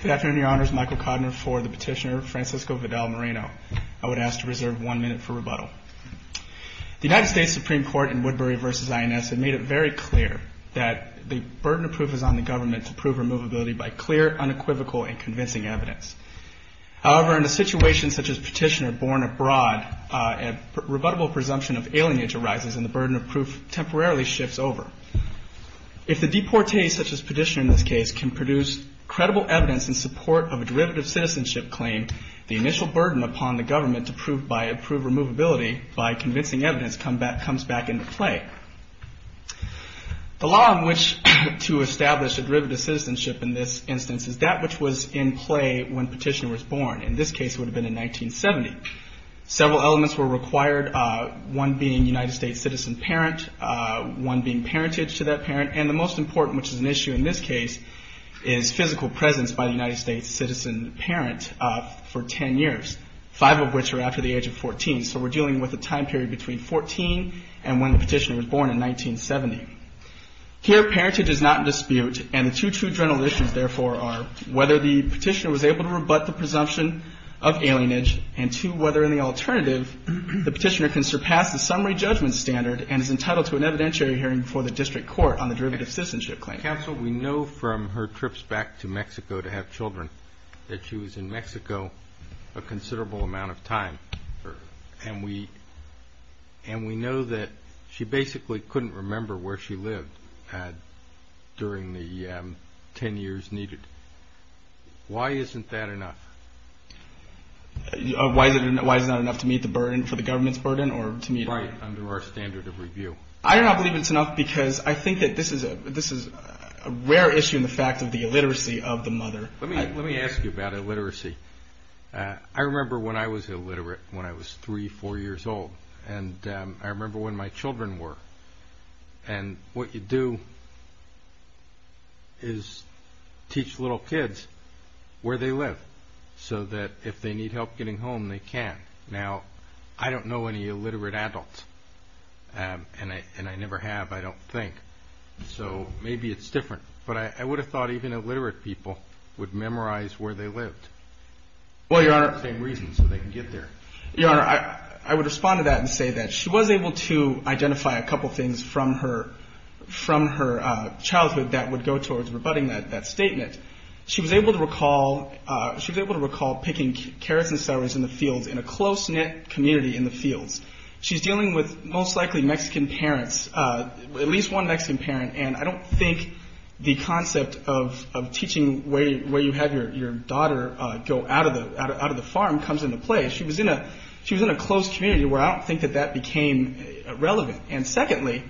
Good afternoon, Your Honors. Michael Kodner for the Petitioner, Francisco Vidal Moreno. I would ask to reserve one minute for rebuttal. The United States Supreme Court in Woodbury v. INS had made it very clear that the burden of proof is on the government to prove removability by clear, unequivocal, and convincing evidence. However, in a situation such as Petitioner, born abroad, a rebuttable presumption of alienage arises and the burden of proof temporarily shifts over. If the deportee, such as Petitioner in this case, can produce credible evidence in support of a derivative citizenship claim, the initial burden upon the government to prove removability by convincing evidence comes back into play. The law in which to establish a derivative citizenship in this instance is that which was in play when Petitioner was born. In this case, it would have been in 1970. Several elements were required, one being United States citizen parent, one being parentage to that parent, and the most important, which is an issue in this case, is physical presence by the United States citizen parent for 10 years, five of which are after the age of 14. So we're dealing with a time period between 14 and when Petitioner was born in 1970. Here, parentage is not in dispute, and the two true general issues, therefore, are whether the Petitioner was able to rebut the presumption of alienage, and two, whether in the alternative the Petitioner can surpass the summary judgment standard and is entitled to an evidentiary hearing before the district court on the derivative citizenship claim. Counsel, we know from her trips back to Mexico to have children that she was in Mexico a considerable amount of time, and we know that she basically couldn't remember where she lived during the 10 years needed. Why isn't that enough? Why is it not enough to meet the burden for the government's burden or to meet? Right, under our standard of review. I do not believe it's enough because I think that this is a rare issue in the fact of the illiteracy of the mother. Let me ask you about illiteracy. I remember when I was illiterate when I was three, four years old, and I remember when my children were, and what you do is teach little kids where they live so that if they need help getting home, they can. Now, I don't know any illiterate adults, and I never have, I don't think, so maybe it's different, but I would have thought even illiterate people would memorize where they lived. Well, Your Honor. Same reason, so they can get there. Your Honor, I would respond to that and say that she was able to identify a couple things from her childhood that would go towards rebutting that statement. She was able to recall picking carrots and celeries in the fields in a close-knit community in the fields. She's dealing with most likely Mexican parents, at least one Mexican parent, and I don't think the concept of teaching where you have your daughter go out of the farm comes into play. She was in a close community where I don't think that that became relevant. And secondly,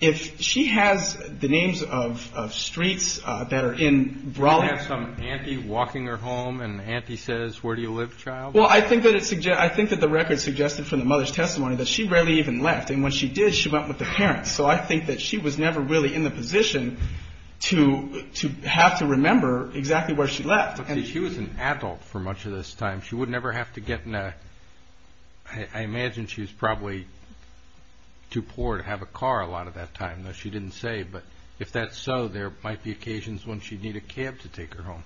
if she has the names of streets that are in Brawley. Do you have some auntie walking her home, and the auntie says, where do you live, child? Well, I think that the record suggested from the mother's testimony that she rarely even left, and when she did, she went with the parents. So I think that she was never really in the position to have to remember exactly where she left. She was an adult for much of this time. She would never have to get in a – I imagine she was probably too poor to have a car a lot of that time, though she didn't say, but if that's so, there might be occasions when she'd need a cab to take her home.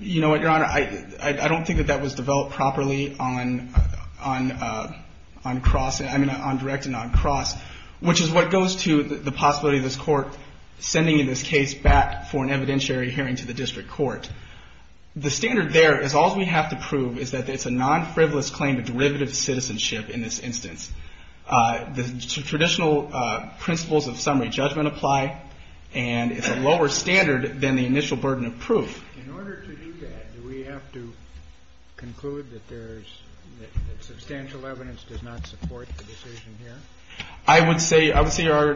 You know what, Your Honor? I don't think that that was developed properly on cross – I mean, on direct and on cross, which is what goes to the possibility of this court sending this case back for an evidentiary hearing to the district court. The standard there is all we have to prove is that it's a non-frivolous claim to derivative citizenship in this instance. The traditional principles of summary judgment apply, and it's a lower standard than the initial burden of proof. In order to do that, do we have to conclude that there's – that substantial evidence does not support the decision here? I would say, Your Honor,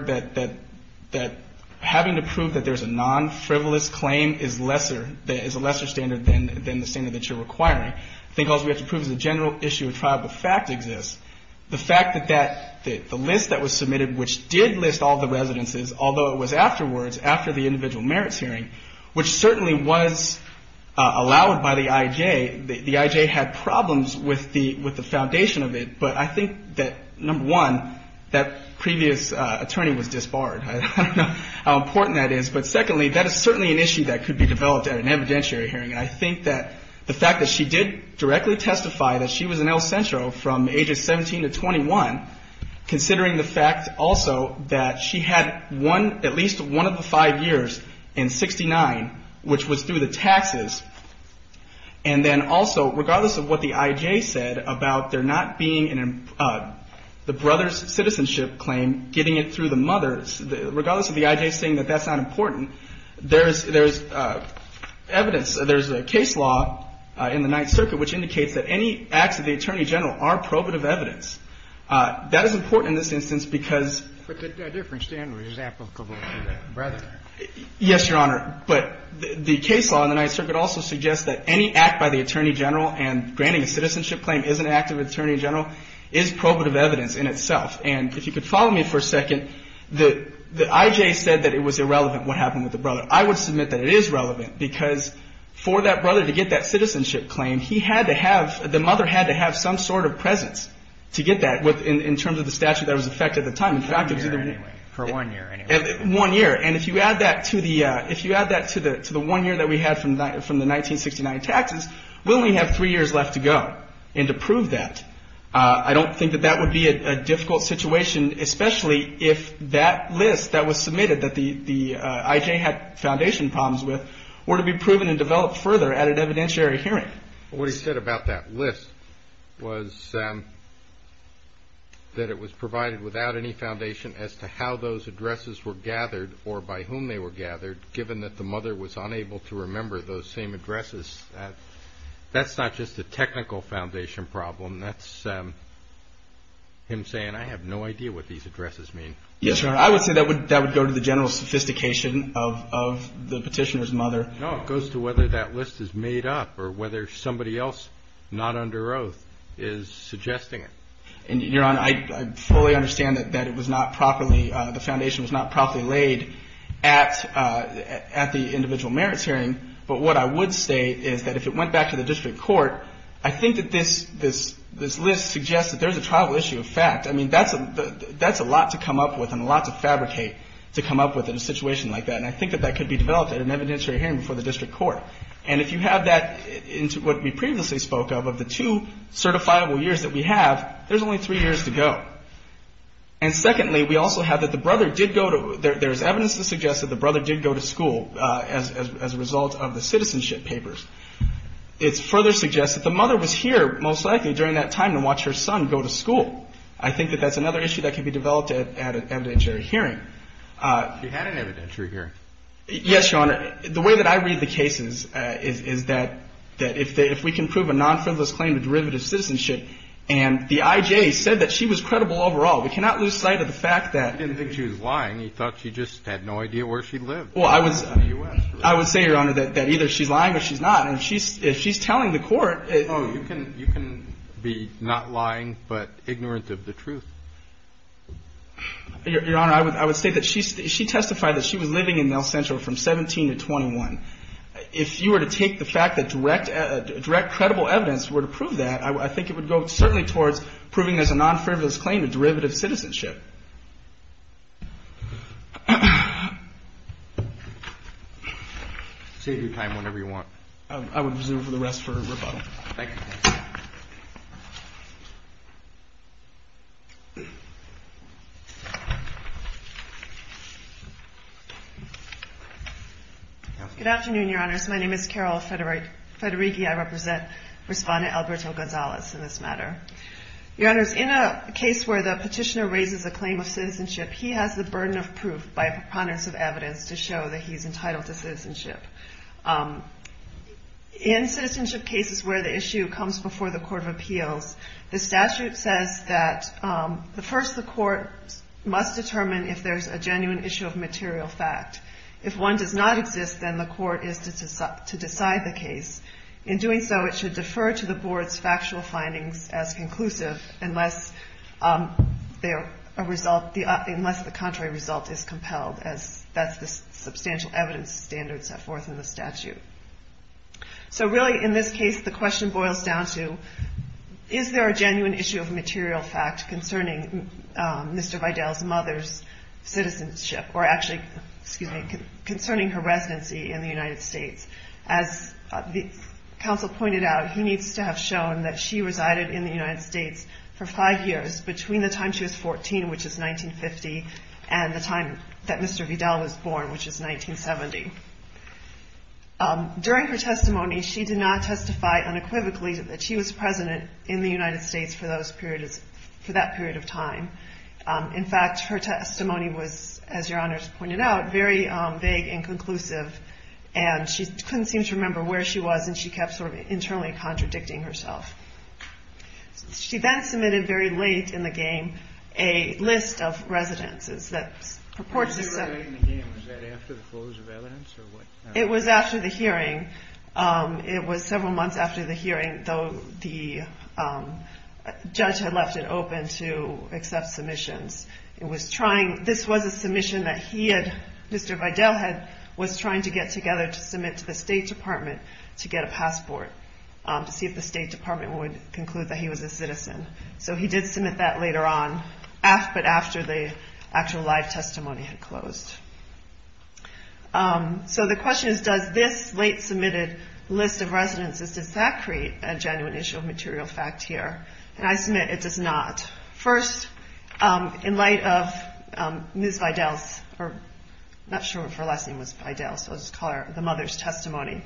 that having to prove that there's a non-frivolous claim is lesser – is a lesser standard than the standard that you're requiring. I think all we have to prove is the general issue of trial of fact exists. The fact that that – the list that was submitted, which did list all the residences, although it was afterwards, after the individual merits hearing, which certainly was allowed by the I.J. The I.J. had problems with the foundation of it, but I think that, number one, that previous attorney was disbarred. I don't know how important that is. But secondly, that is certainly an issue that could be developed at an evidentiary hearing. And I think that the fact that she did directly testify that she was an El Centro from ages 17 to 21, considering the fact also that she had one – at least one of the five years in 69, which was through the taxes. And then also, regardless of what the I.J. said about there not being the brother's citizenship claim, getting it through the mother's, regardless of the I.J. saying that that's not important, there's evidence – there's a case law in the Ninth Circuit which indicates that any acts of the Attorney General are probative evidence. That is important in this instance because – But a different standard is applicable to the brother. Yes, Your Honor. But the case law in the Ninth Circuit also suggests that any act by the Attorney General and granting a citizenship claim is an act of the Attorney General is probative evidence in itself. And if you could follow me for a second, the I.J. said that it was irrelevant what happened with the brother. I would submit that it is relevant because for that brother to get that citizenship claim, he had to have – the mother had to have some sort of presence to get that in terms of the statute that was in effect at the time. For one year anyway. One year. And if you add that to the one year that we had from the 1969 taxes, we only have three years left to go. And to prove that, I don't think that that would be a difficult situation, especially if that list that was submitted that the I.J. had foundation problems with were to be proven and developed further at an evidentiary hearing. What he said about that list was that it was provided without any foundation as to how those addresses were gathered or by whom they were gathered given that the mother was unable to remember those same addresses. That's not just a technical foundation problem. That's him saying, I have no idea what these addresses mean. Yes, Your Honor. I would say that would go to the general sophistication of the petitioner's mother. No, it goes to whether that list is made up or whether somebody else not under oath is suggesting it. Your Honor, I fully understand that it was not properly – the foundation was not properly laid at the individual merits hearing. But what I would say is that if it went back to the district court, I think that this list suggests that there's a tribal issue of fact. I mean, that's a lot to come up with and a lot to fabricate to come up with in a situation like that. And I think that that could be developed at an evidentiary hearing before the district court. And if you have that into what we previously spoke of, of the two certifiable years that we have, there's only three years to go. And secondly, we also have that the brother did go to – there's evidence to suggest that the brother did go to school as a result of the citizenship papers. It further suggests that the mother was here most likely during that time to watch her son go to school. I think that that's another issue that can be developed at an evidentiary hearing. She had an evidentiary hearing. Yes, Your Honor. The way that I read the cases is that if we can prove a non-frivolous claim of derivative citizenship, and the I.J. said that she was credible overall, we cannot lose sight of the fact that – He didn't think she was lying. He thought she just had no idea where she lived. Well, I would say, Your Honor, that either she's lying or she's not. And if she's telling the court – No, you can be not lying but ignorant of the truth. Your Honor, I would say that she testified that she was living in El Centro from 17 to 21. If you were to take the fact that direct credible evidence were to prove that, I think it would go certainly towards proving there's a non-frivolous claim of derivative citizenship. Save your time whenever you want. I would reserve the rest for rebuttal. Thank you. Good afternoon, Your Honors. My name is Carol Federighi. I represent Respondent Alberto Gonzalez in this matter. Your Honors, in a case where the petitioner raises a claim of citizenship, he has the burden of proof by a preponderance of evidence to show that he's entitled to citizenship. In citizenship cases where the issue comes before the Court of Appeals, the statute says that first the court must determine if there's a genuine issue of material fact. If one does not exist, then the court is to decide the case. In doing so, it should defer to the board's factual findings as conclusive unless the contrary result is compelled, as that's the substantial evidence standard set forth in the statute. So really, in this case, the question boils down to, is there a genuine issue of material fact concerning Mr. Vidal's mother's citizenship, or actually concerning her residency in the United States? As the counsel pointed out, he needs to have shown that she resided in the United States for five years, between the time she was 14, which is 1950, and the time that Mr. Vidal was born, which is 1970. During her testimony, she did not testify unequivocally that she was president in the United States for that period of time. In fact, her testimony was, as Your Honors pointed out, very vague and conclusive, and she couldn't seem to remember where she was, and she kept sort of internally contradicting herself. She then submitted, very late in the game, a list of residences that purports to say- Was that after the close of evidence, or what? It was after the hearing. It was several months after the hearing, though the judge had left it open to accept submissions. This was a submission that he had- Mr. Vidal had- was trying to get together to submit to the State Department to get a passport, to see if the State Department would conclude that he was a citizen. So he did submit that later on, but after the actual live testimony had closed. So the question is, does this late submitted list of residences, does that create a genuine issue of material fact here? And I submit it does not. First, in light of Ms. Vidal's- I'm not sure if her last name was Vidal, so I'll just call her the mother's testimony.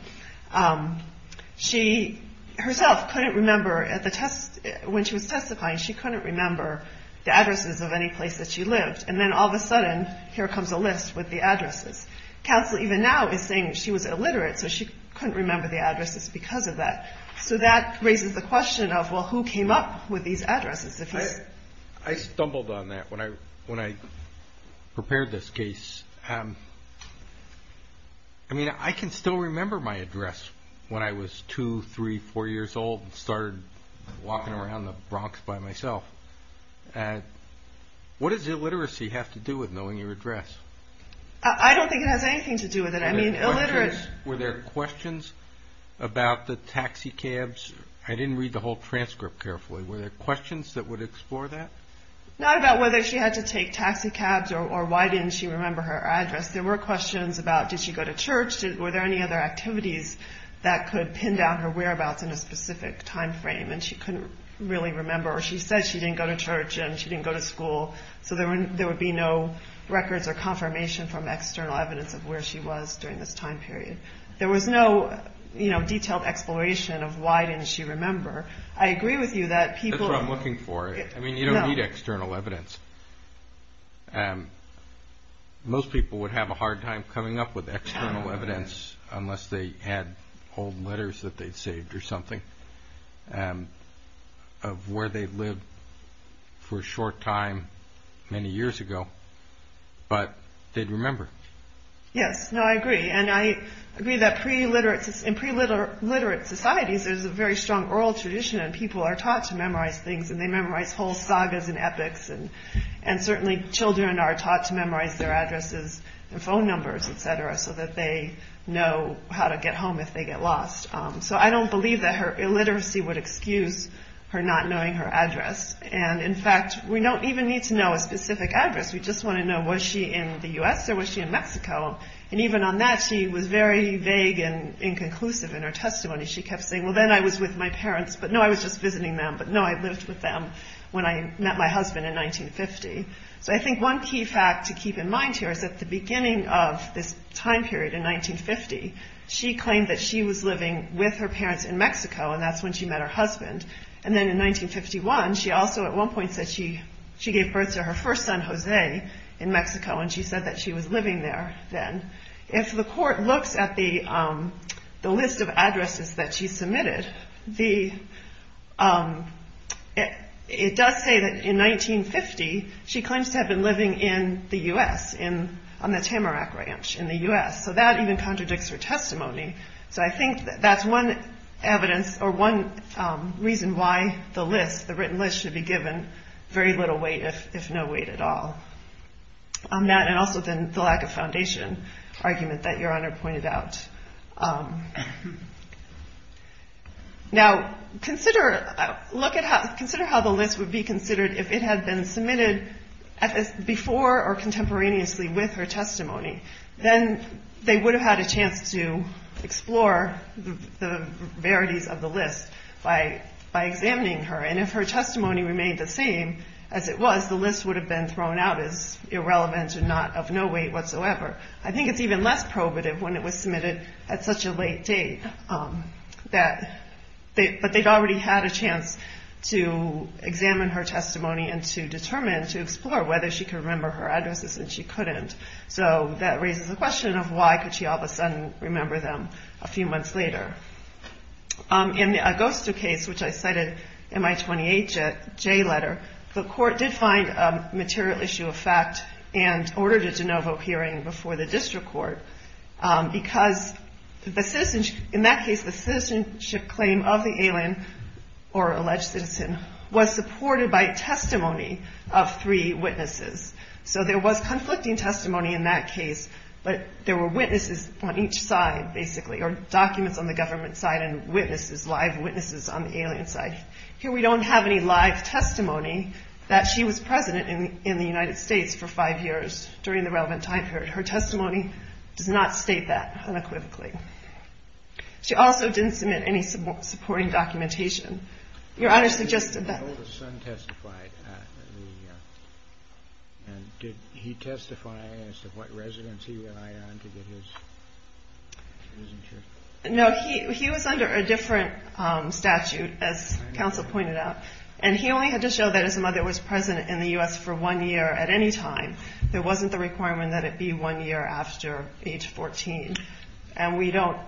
She herself couldn't remember, when she was testifying, she couldn't remember the addresses of any place that she lived. And then all of a sudden, here comes a list with the addresses. Counsel even now is saying she was illiterate, so she couldn't remember the addresses because of that. So that raises the question of, well, who came up with these addresses? I stumbled on that when I prepared this case. I mean, I can still remember my address when I was 2, 3, 4 years old and started walking around the Bronx by myself. What does illiteracy have to do with knowing your address? I don't think it has anything to do with it. Were there questions about the taxi cabs? I didn't read the whole transcript carefully. Were there questions that would explore that? Not about whether she had to take taxi cabs or why didn't she remember her address. There were questions about, did she go to church? Were there any other activities that could pin down her whereabouts in a specific time frame and she couldn't really remember? Or she said she didn't go to church and she didn't go to school, so there would be no records or confirmation from external evidence of where she was during this time period. There was no detailed exploration of why didn't she remember. I agree with you that people... That's what I'm looking for. I mean, you don't need external evidence. Most people would have a hard time coming up with external evidence unless they had old letters that they'd saved or something, of where they lived for a short time many years ago, but they'd remember. Yes, no, I agree. And I agree that in preliterate societies, there's a very strong oral tradition and people are taught to memorize things and they memorize whole sagas and epics. And certainly children are taught to memorize their addresses and phone numbers, et cetera, so that they know how to get home if they get lost. So I don't believe that her illiteracy would excuse her not knowing her address. And in fact, we don't even need to know a specific address. We just want to know, was she in the U.S. or was she in Mexico? And even on that, she was very vague and inconclusive in her testimony. She kept saying, well, then I was with my parents, but no, I was just visiting them, but no, I lived with them when I met my husband in 1950. So I think one key fact to keep in mind here is at the beginning of this time period in 1950, she claimed that she was living with her parents in Mexico, and that's when she met her husband. And then in 1951, she also at one point said she gave birth to her first son, Jose, in Mexico, and she said that she was living there then. If the court looks at the list of addresses that she submitted, it does say that in 1950, she claims to have been living in the U.S., on the Tamarack Ranch in the U.S. So that even contradicts her testimony. So I think that's one evidence or one reason why the list, the written list, should be given very little weight, if no weight at all on that, and also then the lack of foundation argument that Your Honor pointed out. Now, consider how the list would be considered if it had been submitted before or contemporaneously with her testimony. Then they would have had a chance to explore the verities of the list by examining her. And if her testimony remained the same as it was, the list would have been thrown out as irrelevant and not of no weight whatsoever. I think it's even less probative when it was submitted at such a late date, but they'd already had a chance to examine her testimony and to determine, to explore whether she could remember her addresses and she couldn't. So that raises the question of why could she all of a sudden remember them a few months later. In the Augusta case, which I cited in my 28J letter, the court did find a material issue of fact and ordered a de novo hearing before the district court. Because in that case, the citizenship claim of the alien or alleged citizen was supported by testimony of three witnesses. So there was conflicting testimony in that case, but there were witnesses on each side, basically, or documents on the government side and witnesses, live witnesses on the alien side. Here we don't have any live testimony that she was president in the United States for five years during the relevant time period. Her testimony does not state that unequivocally. She also didn't submit any supporting documentation. Your Honor suggested that. The son testified. Did he testify as to what residence he relied on to get his citizenship? No, he was under a different statute, as counsel pointed out, and he only had to show that his mother was president in the U.S. for one year at any time. There wasn't the requirement that it be one year after age 14. And we don't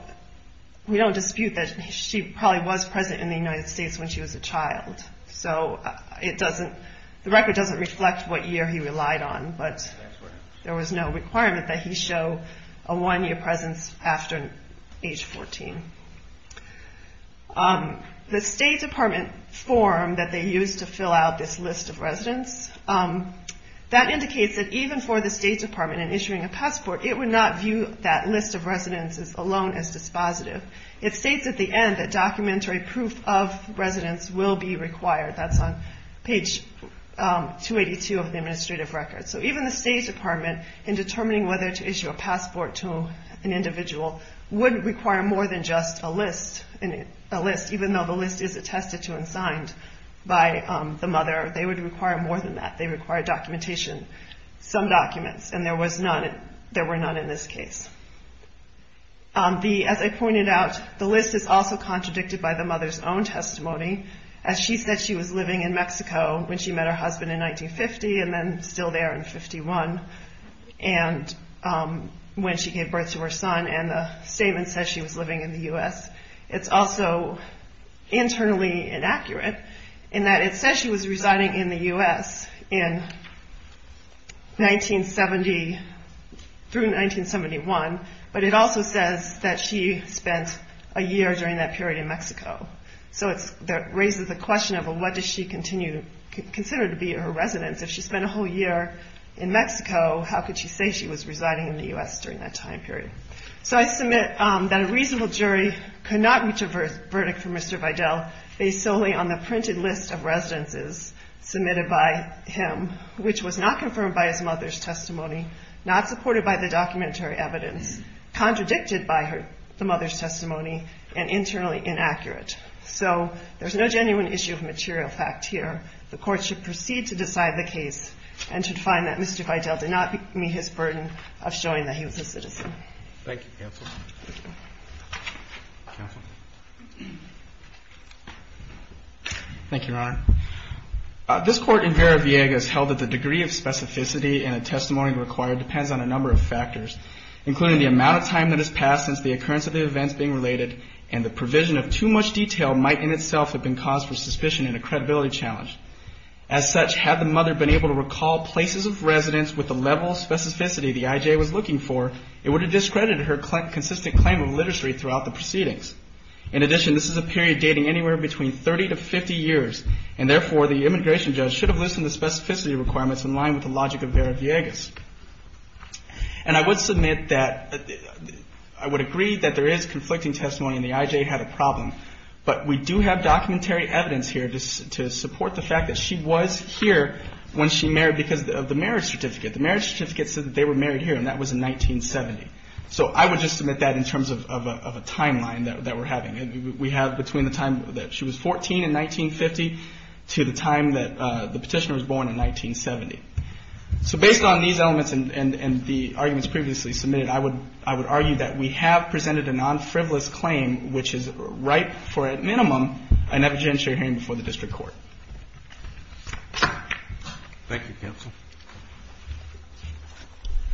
dispute that she probably was president in the United States when she was a child. So the record doesn't reflect what year he relied on, but there was no requirement that he show a one-year presence after age 14. The State Department form that they used to fill out this list of residents, that indicates that even for the State Department in issuing a passport, it would not view that list of residences alone as dispositive. It states at the end that documentary proof of residence will be required. That's on page 282 of the administrative record. So even the State Department in determining whether to issue a passport to an individual would require more than just a list, even though the list is attested to and signed by the mother. They would require more than that. They require documentation, some documents, and there were none in this case. As I pointed out, the list is also contradicted by the mother's own testimony, as she said she was living in Mexico when she met her husband in 1950 and then still there in 51, and when she gave birth to her son, and the statement says she was living in the U.S. It's also internally inaccurate in that it says she was residing in the U.S. in 1970 through 1971, but it also says that she spent a year during that period in Mexico. So that raises the question of what does she consider to be her residence? If she spent a whole year in Mexico, how could she say she was residing in the U.S. during that time period? So I submit that a reasonable jury could not reach a verdict for Mr. Vidal based solely on the printed list of residences submitted by him, which was not confirmed by his mother's testimony, not supported by the documentary evidence, contradicted by the mother's testimony, and internally inaccurate. So there's no genuine issue of material fact here. The Court should proceed to decide the case and should find that Mr. Vidal did not meet his burden of showing that he was a citizen. Thank you, Counsel. Thank you, Your Honor. This Court in Vera-Viega has held that the degree of specificity in a testimony required depends on a number of factors, including the amount of time that has passed since the occurrence of the events being related and the provision of too much detail might in itself have been cause for suspicion and a credibility challenge. As such, had the mother been able to recall places of residence with the level of specificity the IJ was looking for, it would have discredited her consistent claim of literacy throughout the proceedings. In addition, this is a period dating anywhere between 30 to 50 years, and therefore the immigration judge should have listed the specificity requirements in line with the logic of Vera-Viega's. And I would submit that I would agree that there is conflicting testimony and the IJ had a problem, but we do have documentary evidence here to support the fact that she was here when she married because of the marriage certificate. The marriage certificate said that they were married here, and that was in 1970. So I would just submit that in terms of a timeline that we're having. We have between the time that she was 14 in 1950 to the time that the petitioner was born in 1970. So based on these elements and the arguments previously submitted, I would argue that we have presented a non-frivolous claim, which is ripe for, at minimum, an evidentiary hearing before the district court. Thank you, counsel.